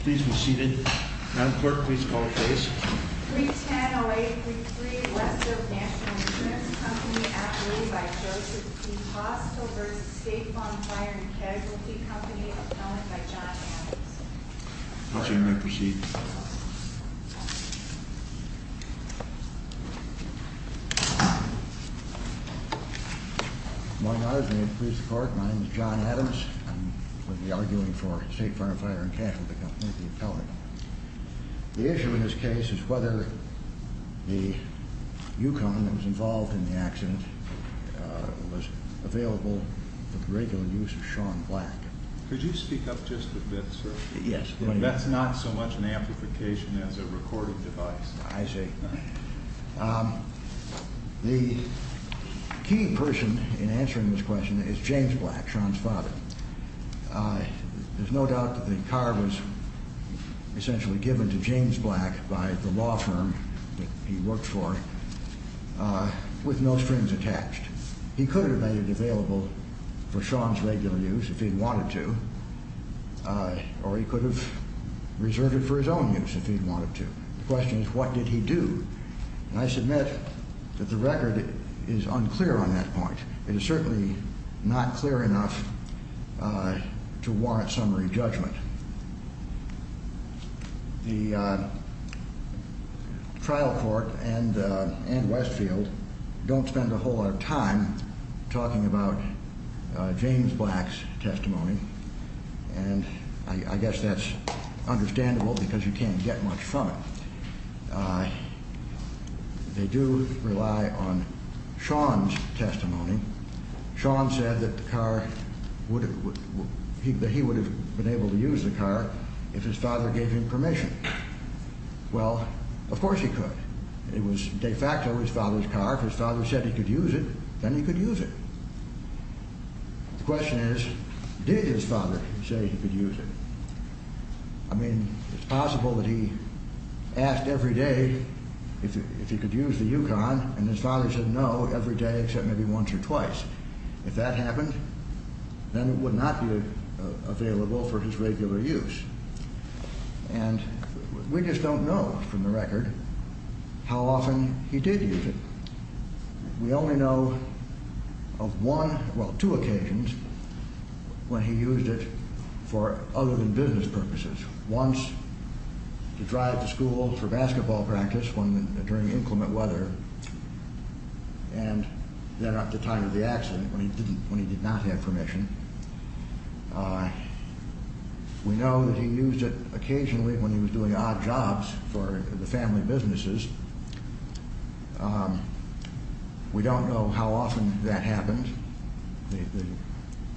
Please be seated. Madam Clerk, please call the case. 310-0833 Westfield National Insurance Company, outlawed by Joseph P. Foster v. State Farm, Fire and Casualty Company, appellant by John Anderson. Mr. Anderson, you may proceed. Good morning, Your Honor. May it please the Court, my name is John Adams. I'm going to be arguing for State Farm, Fire and Casualty Company, the appellant. The issue in this case is whether the UConn that was involved in the accident was available for the regular use of Sean Black. Could you speak up just a bit, sir? Yes. That's not so much an amplification as a recording device. I see. The key person in answering this question is James Black, Sean's father. There's no doubt that the car was essentially given to James Black by the law firm that he worked for, with no strings attached. He could have made it available for Sean's regular use if he wanted to, or he could have reserved it for his own use if he wanted to. The question is, what did he do? And I submit that the record is unclear on that point. It is certainly not clear enough to warrant summary judgment. The trial court and Westfield don't spend a whole lot of time talking about James Black's testimony, and I guess that's understandable because you can't get much from it. I mean, Sean said that he would have been able to use the car if his father gave him permission. Well, of course he could. It was de facto his father's car. If his father said he could use it, then he could use it. The question is, did his father say he could use it? I mean, it's possible that he asked every day if he could use the UConn, and his father said no every day except maybe once or twice. If that happened, then it would not be available for his regular use. And we just don't know from the record how often he did use it. We only know of one, well, two occasions when he used it for other than business purposes. Once to drive to school for basketball practice during inclement weather, and then at the time of the accident when he did not have permission. We know that he used it occasionally when he was doing odd jobs for the family businesses. We don't know how often that happened. The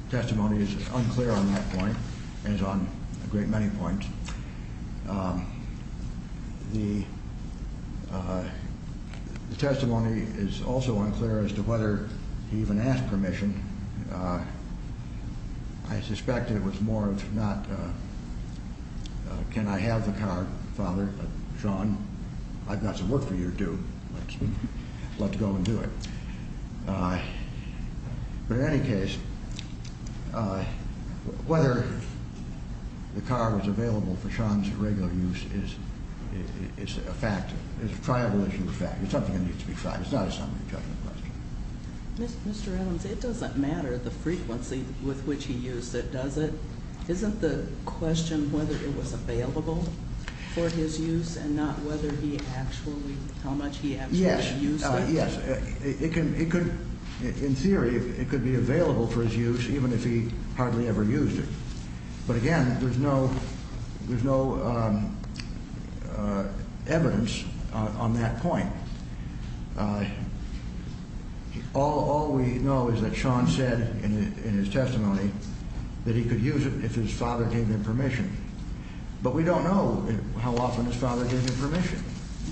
testimony is unclear on that point, as on a great many points. The testimony is also unclear as to whether he even asked permission. I suspect it was more of not, can I have the car, father? But, Sean, I've got some work for you to do. Let's go and do it. But in any case, whether the car was available for Sean's regular use is a fact. It's a triable issue of fact. It's something that needs to be tried. It's not a summary judgment question. Mr. Adams, it doesn't matter the frequency with which he used it, does it? Isn't the question whether it was available for his use and not whether he actually, how much he actually used it? Yes. It could, in theory, it could be available for his use even if he hardly ever used it. But, again, there's no evidence on that point. All we know is that Sean said in his testimony that he could use it if his father gave him permission. But we don't know how often his father gave him permission.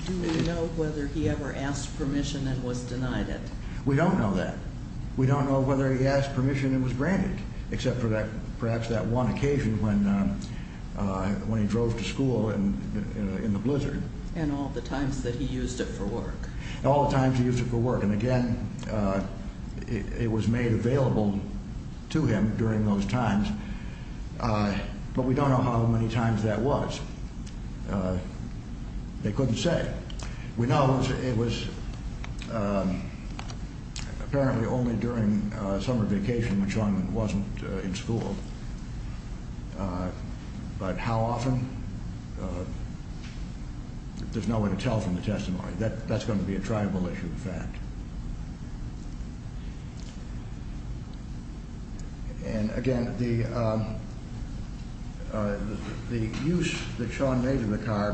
Do we know whether he ever asked permission and was denied it? We don't know that. We don't know whether he asked permission and was granted, except for perhaps that one occasion when he drove to school in the blizzard. And all the times that he used it for work. All the times he used it for work. And, again, it was made available to him during those times. But we don't know how many times that was. They couldn't say. We know it was apparently only during summer vacation when Sean wasn't in school. But how often? There's no way to tell from the testimony. That's going to be a tribal issue, in fact. And, again, the use that Sean made of the car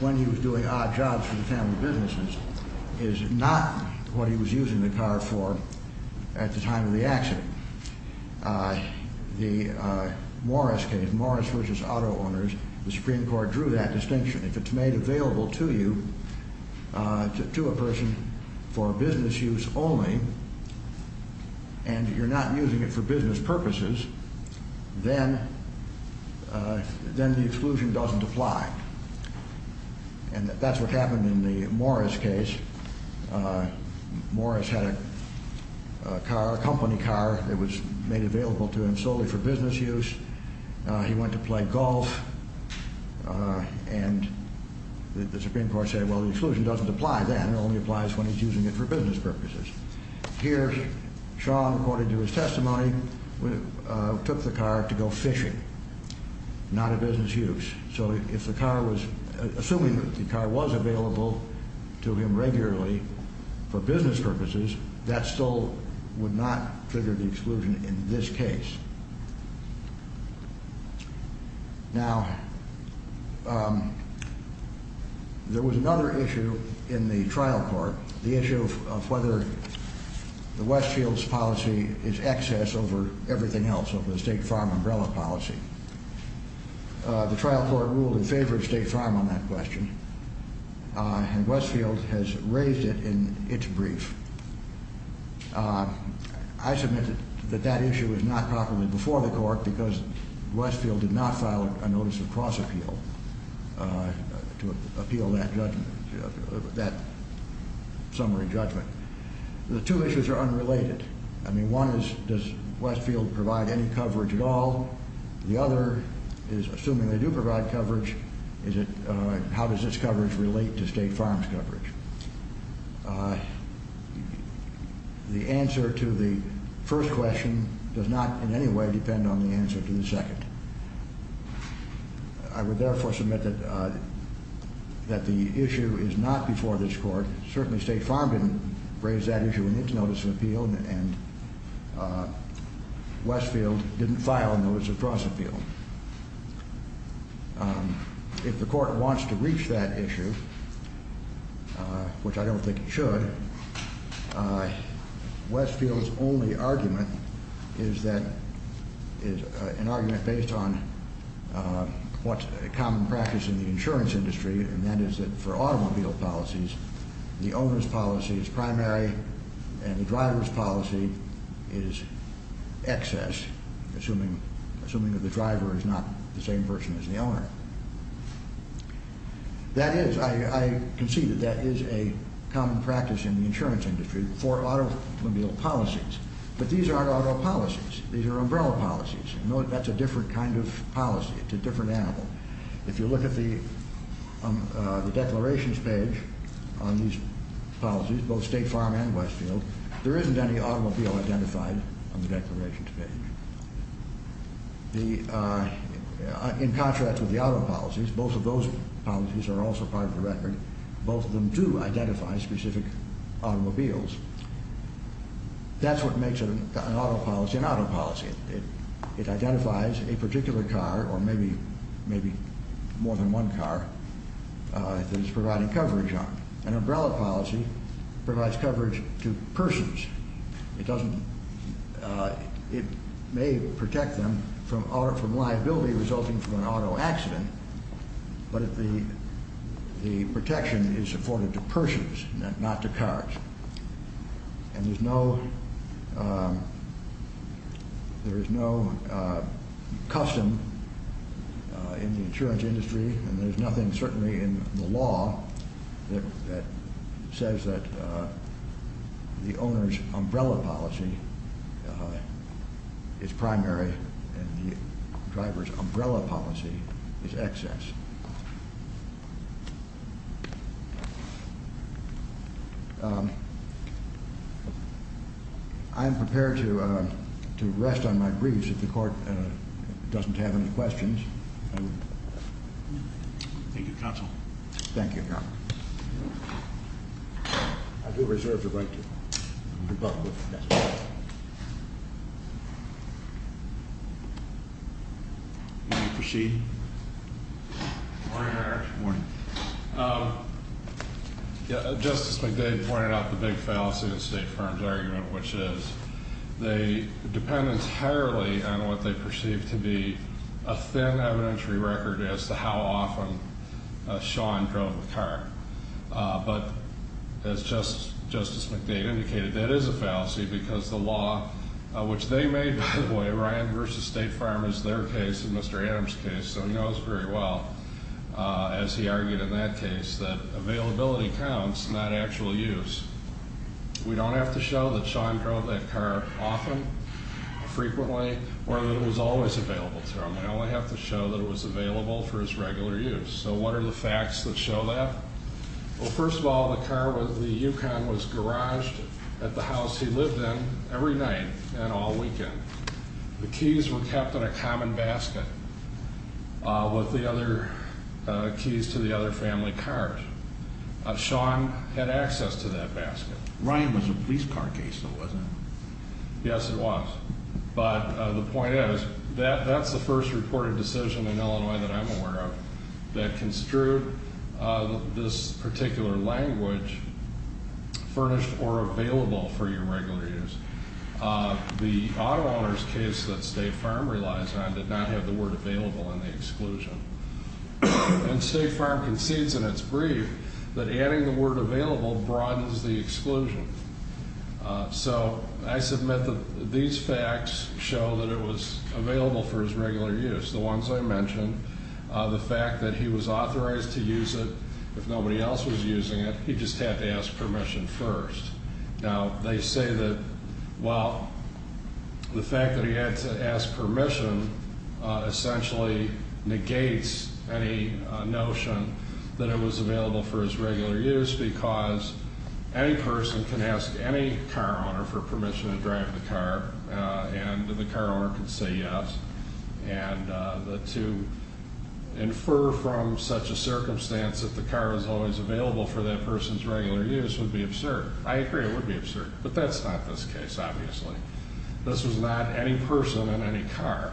when he was doing odd jobs for the family businesses is not what he was using the car for at the time of the accident. The Morris case, Morris, which is auto owners, the Supreme Court drew that distinction. If it's made available to you, to a person for business use only, and you're not using it for business purposes, then the exclusion doesn't apply. And that's what happened in the Morris case. Morris had a car, a company car that was made available to him solely for business use. He went to play golf, and the Supreme Court said, well, the exclusion doesn't apply then. It only applies when he's using it for business purposes. Here, Sean, according to his testimony, took the car to go fishing. Not a business use. Assuming the car was available to him regularly for business purposes, that still would not trigger the exclusion in this case. Now, there was another issue in the trial court, the issue of whether the Westfields policy is excess over everything else, over the state farm umbrella policy. The trial court ruled in favor of state farm on that question, and Westfield has raised it in its brief. I submit that that issue is not properly before the court because Westfield did not file a notice of cross appeal to appeal that summary judgment. The two issues are unrelated. I mean, one is, does Westfield provide any coverage at all? The other is, assuming they do provide coverage, is it, how does this coverage relate to state farms coverage? The answer to the first question does not in any way depend on the answer to the second. I would therefore submit that the issue is not before this court. Certainly state farm didn't raise that issue in its notice of appeal, and Westfield didn't file a notice of cross appeal. If the court wants to reach that issue, which I don't think it should, Westfield's only argument is that, is an argument based on what's common practice in the insurance industry, and that is that for automobile policies, the owner's policy is primary and the driver's policy is excess, assuming that the driver is not the same person as the owner. That is, I concede that that is a common practice in the insurance industry for automobile policies, but these aren't auto policies. These are umbrella policies. That's a different kind of policy. It's a different animal. If you look at the declarations page on these policies, both state farm and Westfield, there isn't any automobile identified on the declarations page. In contrast with the auto policies, both of those policies are also part of the record. Both of them do identify specific automobiles. That's what makes an auto policy an auto policy. It identifies a particular car or maybe more than one car that it's providing coverage on. An umbrella policy provides coverage to persons. It may protect them from liability resulting from an auto accident, but the protection is afforded to persons, not to cars. And there is no custom in the insurance industry, and there's nothing certainly in the law that says that the owner's umbrella policy is primary and the driver's umbrella policy is excess. I am prepared to rest on my briefs if the court doesn't have any questions. Thank you, counsel. Thank you, Your Honor. I do reserve the right to rebut. You may proceed. Morning, Your Honor. Morning. Justice McDade pointed out the big fallacy in State Farm's argument, which is they depend entirely on what they perceive to be a thin evidentiary record as to how often Sean drove the car. But as Justice McDade indicated, that is a fallacy because the law, which they made, by the way, Ryan v. State Farm is their case and Mr. Adams' case, so he knows very well. As he argued in that case, that availability counts, not actual use. We don't have to show that Sean drove that car often, frequently, or that it was always available to him. We only have to show that it was available for his regular use. So what are the facts that show that? Well, first of all, the car with the Yukon was garaged at the house he lived in every night and all weekend. The keys were kept in a common basket with the other keys to the other family cars. Sean had access to that basket. Ryan was a police car case, though, wasn't he? Yes, he was. But the point is, that's the first reported decision in Illinois that I'm aware of that construed this particular language, furnished or available for your regular use. The auto owner's case that State Farm relies on did not have the word available in the exclusion. And State Farm concedes in its brief that adding the word available broadens the exclusion. So I submit that these facts show that it was available for his regular use, the ones I mentioned. The fact that he was authorized to use it, if nobody else was using it, he just had to ask permission first. Now, they say that, well, the fact that he had to ask permission essentially negates any notion that it was available for his regular use. Because any person can ask any car owner for permission to drive the car, and the car owner can say yes. And to infer from such a circumstance that the car was always available for that person's regular use would be absurd. I agree, it would be absurd. But that's not this case, obviously. This was not any person in any car.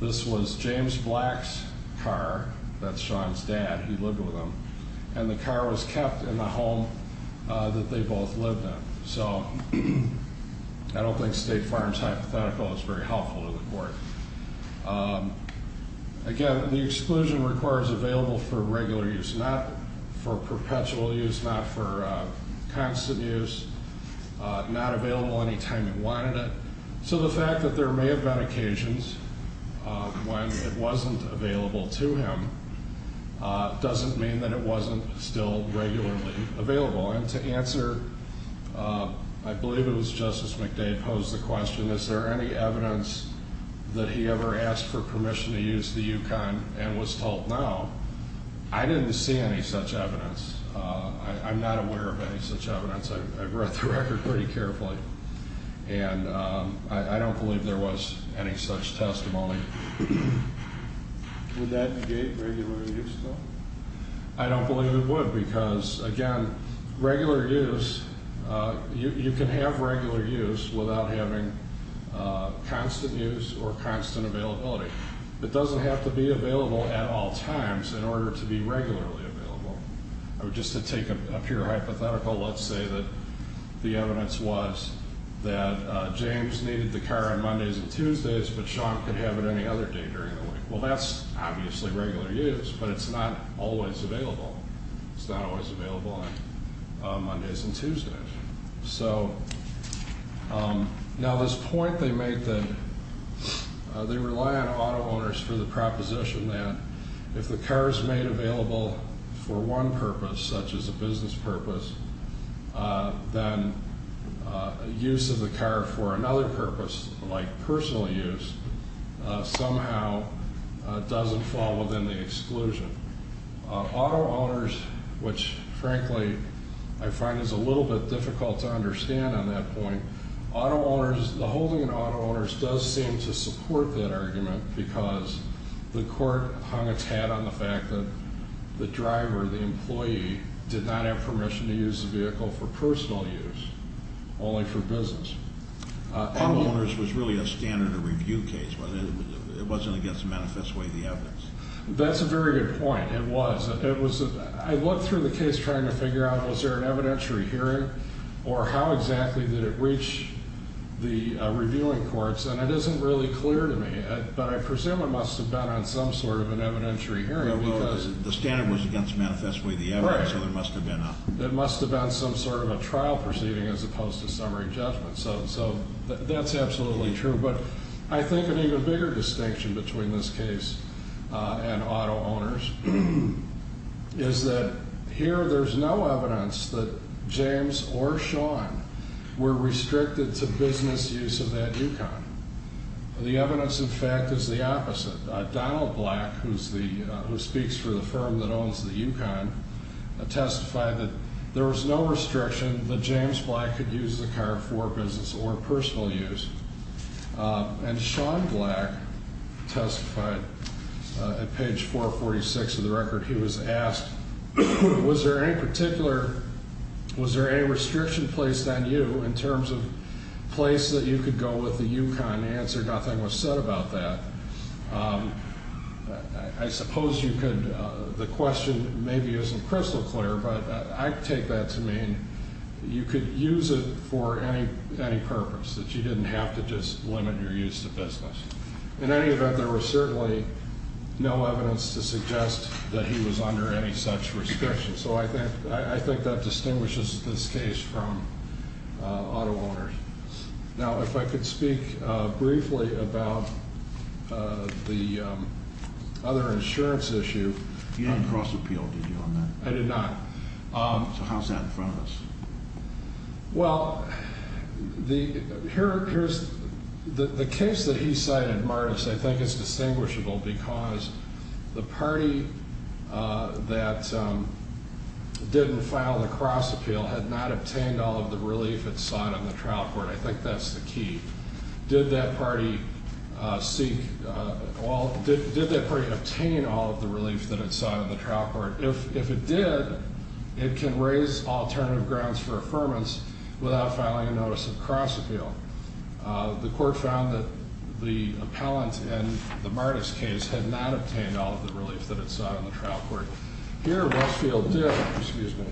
This was James Black's car. That's Sean's dad. He lived with him. And the car was kept in the home that they both lived in. So I don't think State Farm's hypothetical is very helpful to the court. Again, the exclusion requires available for regular use, not for perpetual use, not for constant use, not available any time he wanted it. So the fact that there may have been occasions when it wasn't available to him doesn't mean that it wasn't still regularly available. And to answer, I believe it was Justice McDade posed the question, is there any evidence that he ever asked for permission to use the Yukon and was told no? I didn't see any such evidence. I'm not aware of any such evidence. I've read the record pretty carefully. And I don't believe there was any such testimony. Would that negate regular use, though? I don't believe it would because, again, regular use, you can have regular use without having constant use or constant availability. It doesn't have to be available at all times in order to be regularly available. Just to take a pure hypothetical, let's say that the evidence was that James needed the car on Mondays and Tuesdays, but Sean could have it any other day during the week. Well, that's obviously regular use, but it's not always available. It's not always available on Mondays and Tuesdays. So now this point they make that they rely on auto owners for the proposition that if the car is made available for one purpose, such as a business purpose, then use of the car for another purpose, like personal use, somehow doesn't fall within the exclusion. Auto owners, which, frankly, I find is a little bit difficult to understand on that point, auto owners, the holding of auto owners does seem to support that argument because the court hung its hat on the fact that the driver, the employee, did not have permission to use the vehicle for personal use, only for business. Auto owners was really a standard of review case, wasn't it? It wasn't against the manifest way of the evidence. That's a very good point. It was. I looked through the case trying to figure out was there an evidentiary hearing or how exactly did it reach the reviewing courts, and it isn't really clear to me. But I presume it must have been on some sort of an evidentiary hearing. Well, the standard was against manifest way of the evidence, so there must have been a... Right. It must have been some sort of a trial proceeding as opposed to summary judgment. So that's absolutely true. But I think an even bigger distinction between this case and auto owners is that here there's no evidence that James or Sean were restricted to business use of that Yukon. The evidence, in fact, is the opposite. Donald Black, who speaks for the firm that owns the Yukon, testified that there was no restriction that James Black could use the car for business or personal use. And Sean Black testified at page 446 of the record. He was asked, was there any particular... Was there any restriction placed on you in terms of place that you could go with the Yukon? The answer, nothing was said about that. I suppose you could... The question maybe isn't crystal clear, but I take that to mean you could use it for any purpose, that you didn't have to just limit your use of business. In any event, there was certainly no evidence to suggest that he was under any such restriction. So I think that distinguishes this case from auto owners. Now, if I could speak briefly about the other insurance issue. You didn't cross appeal, did you, on that? I did not. So how's that in front of us? Well, the case that he cited, Martis, I think is distinguishable because the party that didn't file the cross appeal had not obtained all of the relief it sought on the trial court. I think that's the key. Did that party obtain all of the relief that it sought on the trial court? If it did, it can raise alternative grounds for affirmance without filing a notice of cross appeal. The court found that the appellant in the Martis case had not obtained all of the relief that it sought on the trial court. Here, Westfield did. Excuse me.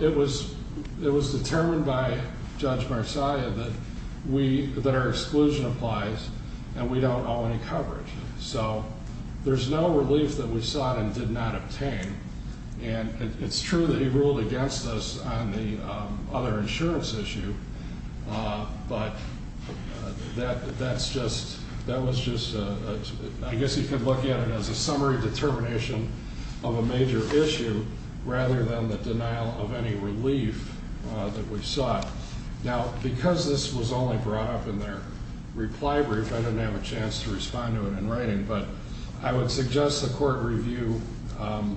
It was determined by Judge Marcia that our exclusion applies and we don't owe any coverage. So there's no relief that we sought and did not obtain. And it's true that he ruled against us on the other insurance issue. But that's just, that was just, I guess you could look at it as a summary determination of a major issue rather than the denial of any relief that we sought. Now, because this was only brought up in their reply brief, I didn't have a chance to respond to it in writing. But I would suggest the court review, let me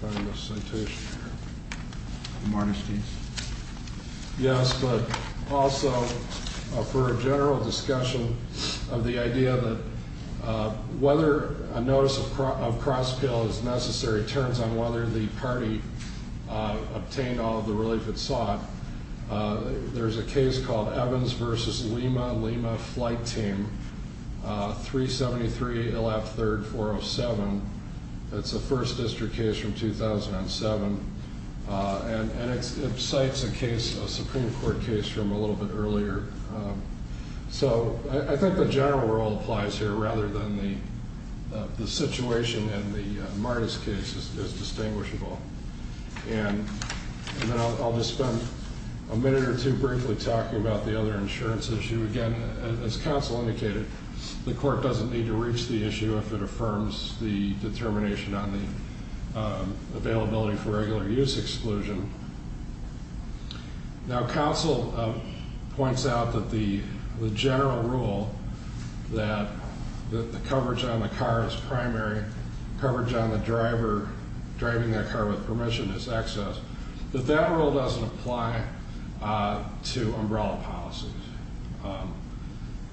find the citation here, the Martis case. Yes, but also for a general discussion of the idea that whether a notice of cross appeal is necessary turns on whether the party obtained all of the relief it sought. There's a case called Evans versus Lima Lima flight team 373 LF third 407. It's a first district case from 2007. And it cites a case, a Supreme Court case from a little bit earlier. So I think the general rule applies here rather than the situation in the Martis case is distinguishable. And I'll just spend a minute or two briefly talking about the other insurance issue again. And as counsel indicated, the court doesn't need to reach the issue if it affirms the determination on the availability for regular use exclusion. Now, counsel points out that the general rule that the coverage on the car is primary, coverage on the driver driving that car with permission is excess. But that rule doesn't apply to umbrella policies.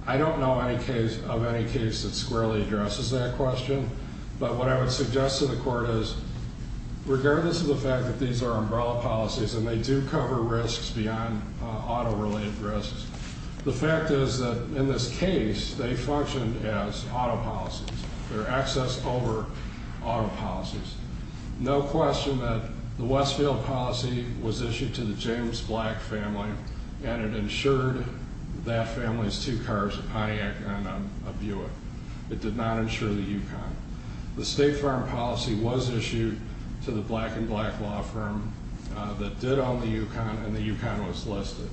I don't know any case of any case that squarely addresses that question. But what I would suggest to the court is, regardless of the fact that these are umbrella policies and they do cover risks beyond auto related risks. The fact is that in this case, they function as auto policies. They're excess over auto policies. No question that the Westfield policy was issued to the James Black family and it insured that family's two cars, a Pontiac and a Buick. It did not insure the Yukon. The State Farm policy was issued to the Black and Black law firm that did own the Yukon and the Yukon was listed.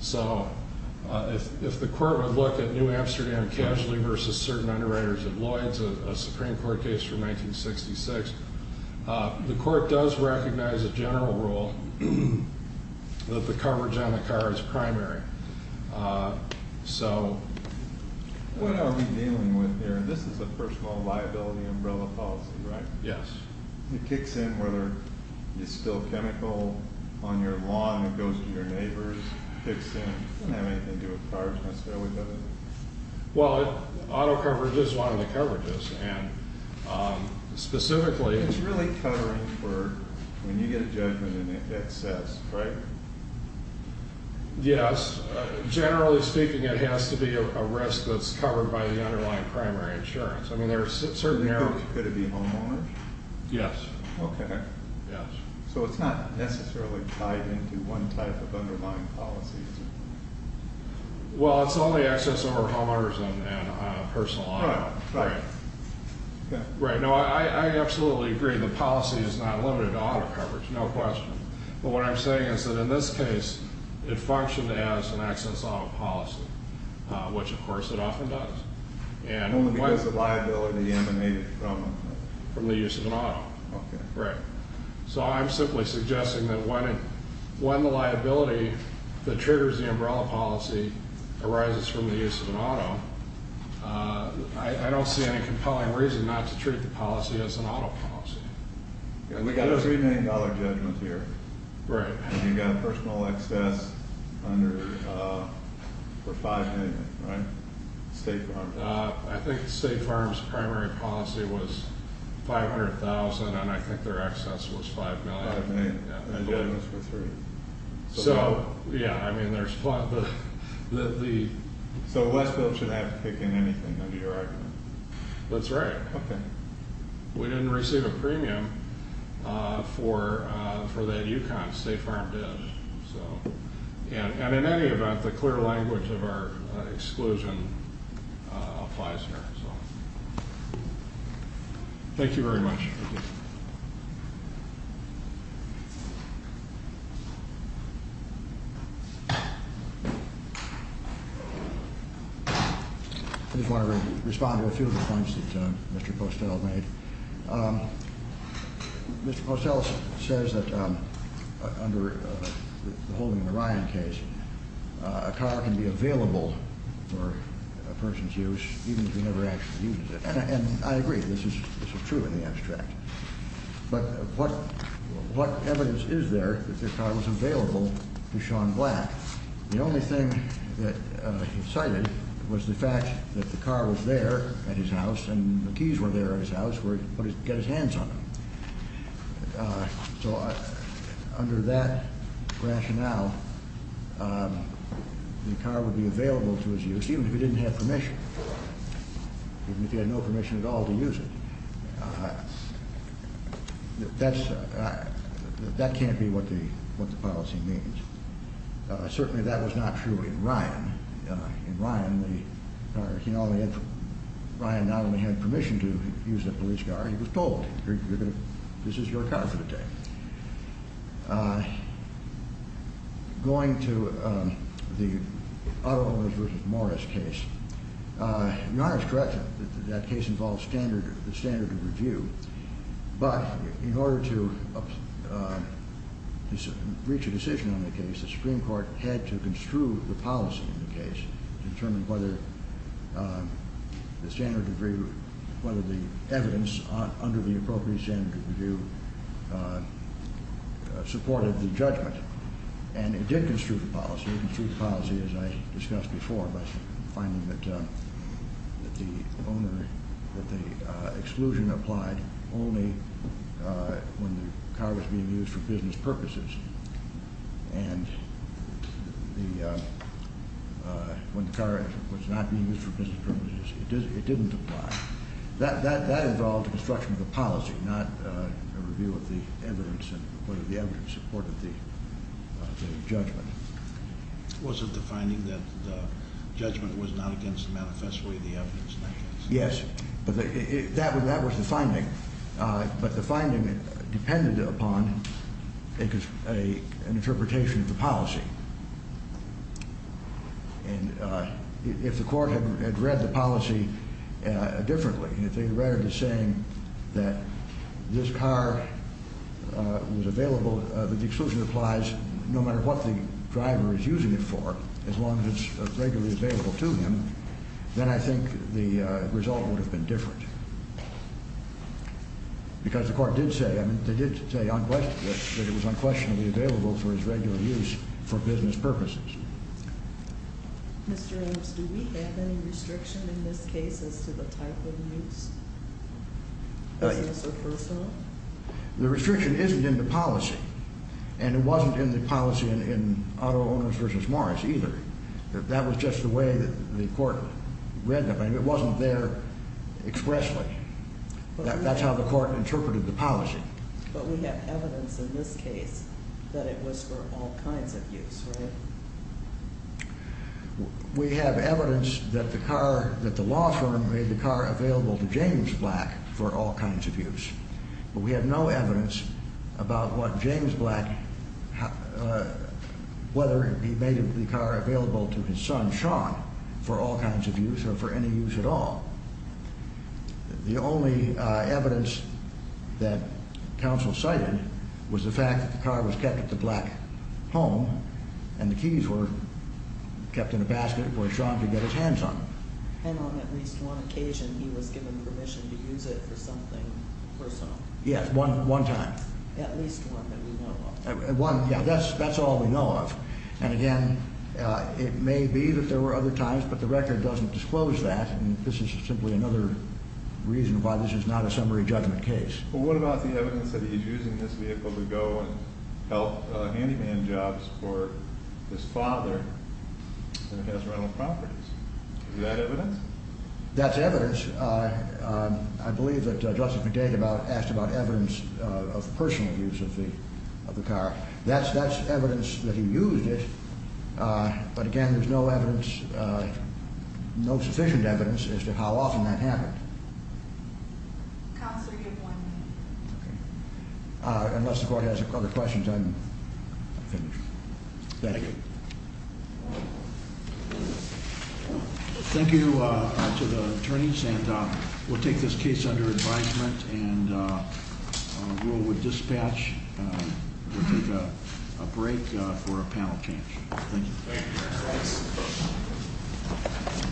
So if the court would look at New Amsterdam Casualty versus certain underwriters of Lloyds, a Supreme Court case from 1966, the court does recognize a general rule that the coverage on the car is primary. So. What are we dealing with here? This is a personal liability umbrella policy, right? Yes. It kicks in whether you spill chemical on your lawn and it goes to your neighbors. It kicks in. I don't have anything to do with cars. I'm going to stay with that. Well, auto coverage is one of the coverages and specifically. It's really covering for when you get a judgment in excess, right? Yes. Generally speaking, it has to be a risk that's covered by the underlying primary insurance. I mean, there are certain areas. Could it be homeowners? Yes. Okay. Yes. So it's not necessarily tied into one type of underlying policy. Well, it's only access over homeowners and personal. Right. Right. No, I absolutely agree. The policy is not limited to auto coverage. No question. But what I'm saying is that in this case, it functioned as an access auto policy, which, of course, it often does. Only because the liability emanated from it. From the use of an auto. Okay. Right. So I'm simply suggesting that when the liability that triggers the umbrella policy arises from the use of an auto, I don't see any compelling reason not to treat the policy as an auto policy. We've got a $3 million judgment here. Right. And you've got personal access for $5 million. Right? State Farm. I think State Farm's primary policy was $500,000, and I think their access was $5 million. $5 million. And you owe us for $3 million. So, yeah, I mean, there's the... So Westfield shouldn't have to kick in anything under your argument. That's right. Okay. We didn't receive a premium for that UConn. State Farm did. So... And in any event, the clear language of our exclusion applies here. Thank you very much. Thank you. I just want to respond to a few of the points that Mr. Postell made. Mr. Postell says that under the holding of the Ryan case, a car can be available for a person's use even if you never actually used it. And I agree. This is true in the abstract. But what evidence is there that the car was available to Sean Black? The only thing that he cited was the fact that the car was there at his house and the keys were there at his house where he could get his hands on them. So under that rationale, the car would be available to his use even if he didn't have permission, even if he had no permission at all to use it. That can't be what the policy means. Certainly that was not true in Ryan. In Ryan, Ryan not only had permission to use the police car, he was told, this is your car for the day. Going to the Otto Owens v. Morris case, Your Honor is correct that that case involves the standard of review. But in order to reach a decision on the case, the Supreme Court had to construe the policy in the case to determine whether the standard of review, whether the evidence under the appropriate standard of review supported the judgment. And it did construe the policy as I discussed before by finding that the exclusion applied only when the car was being used for business purposes. And when the car was not being used for business purposes, it didn't apply. That involved the construction of the policy, not a review of the evidence and whether the evidence supported the judgment. Was it the finding that the judgment was not against manifestly the evidence in that case? Yes, that was the finding. But the finding depended upon an interpretation of the policy. And if the court had read the policy differently, if they read it as saying that this car was available, that the exclusion applies no matter what the driver is using it for, as long as it's regularly available to him, then I think the result would have been different. Because the court did say, I mean, they did say that it was unquestionably available for his regular use for business purposes. Mr. Ames, do we have any restriction in this case as to the type of use? Is this a personal? The restriction isn't in the policy. And it wasn't in the policy in Auto Owners v. Morris either. That was just the way the court read them. It wasn't there expressly. That's how the court interpreted the policy. But we have evidence in this case that it was for all kinds of use, right? We have evidence that the car, that the law firm made the car available to James Black for all kinds of use. But we have no evidence about what James Black, whether he made the car available to his son, Sean, for all kinds of use or for any use at all. The only evidence that counsel cited was the fact that the car was kept at the Black home and the keys were kept in a basket where Sean could get his hands on them. And then on at least one occasion he was given permission to use it for something personal? Yes, one time. At least one that we know of. Yeah, that's all we know of. And again, it may be that there were other times, but the record doesn't disclose that. And this is simply another reason why this is not a summary judgment case. Well, what about the evidence that he's using this vehicle to go and help handyman jobs for his father? And it has rental properties. Is that evidence? That's evidence. I believe that Justice McDade asked about evidence of personal use of the car. That's evidence that he used it. But again, there's no evidence, no sufficient evidence as to how often that happened. Counselor, you have one minute. Okay. Unless the court has other questions, I'm finished. Thank you. Thank you to the attorneys, and we'll take this case under advisement and rule with dispatch. We'll take a break for a panel change. Thank you.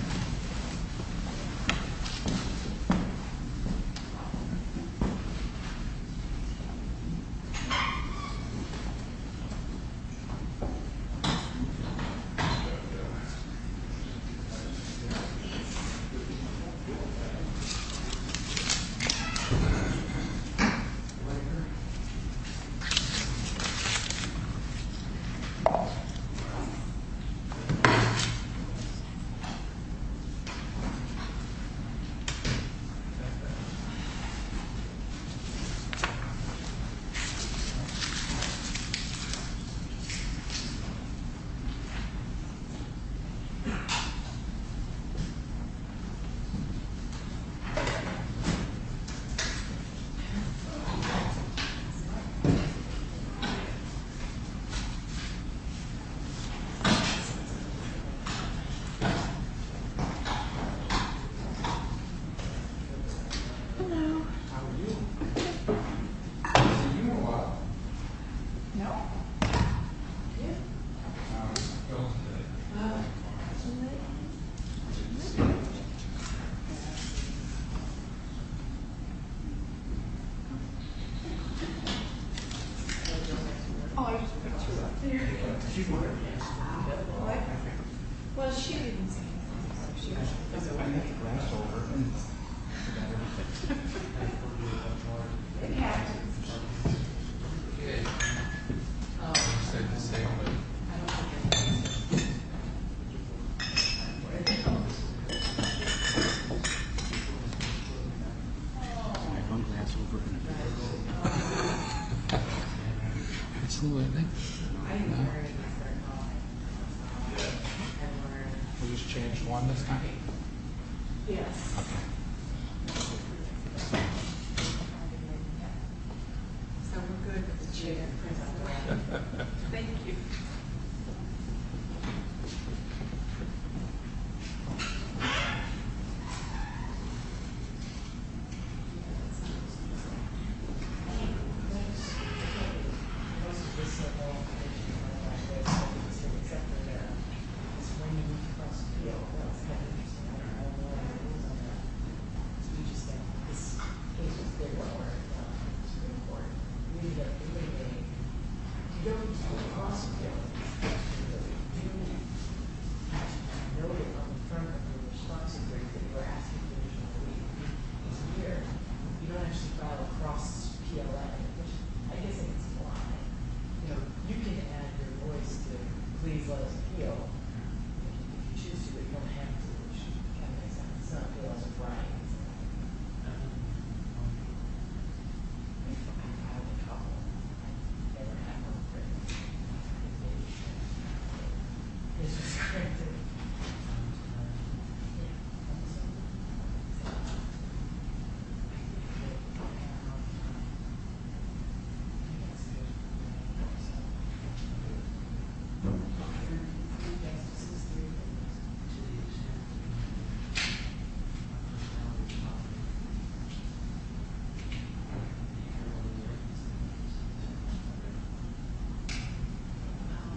Thank you, Your Honor. Thank you. Thank you. Hello. How are you? Good. Do you move a lot? No. Yeah. How are you? How is your day? I'm doing good. Good to see you. Good to see you. Good to see you. Good to see you. Good to see you. Good to see you. Good to see you. Good to see you. Oh, I just forgot about you. She's wonderful. I know. I like her. Well, she's really nice. She's really nice. Thank you. Thank you. Thank you. Thank you. Thank you. Thank you. Thank you. Thank you. Thank you. Thank you. Thank you. Thank you.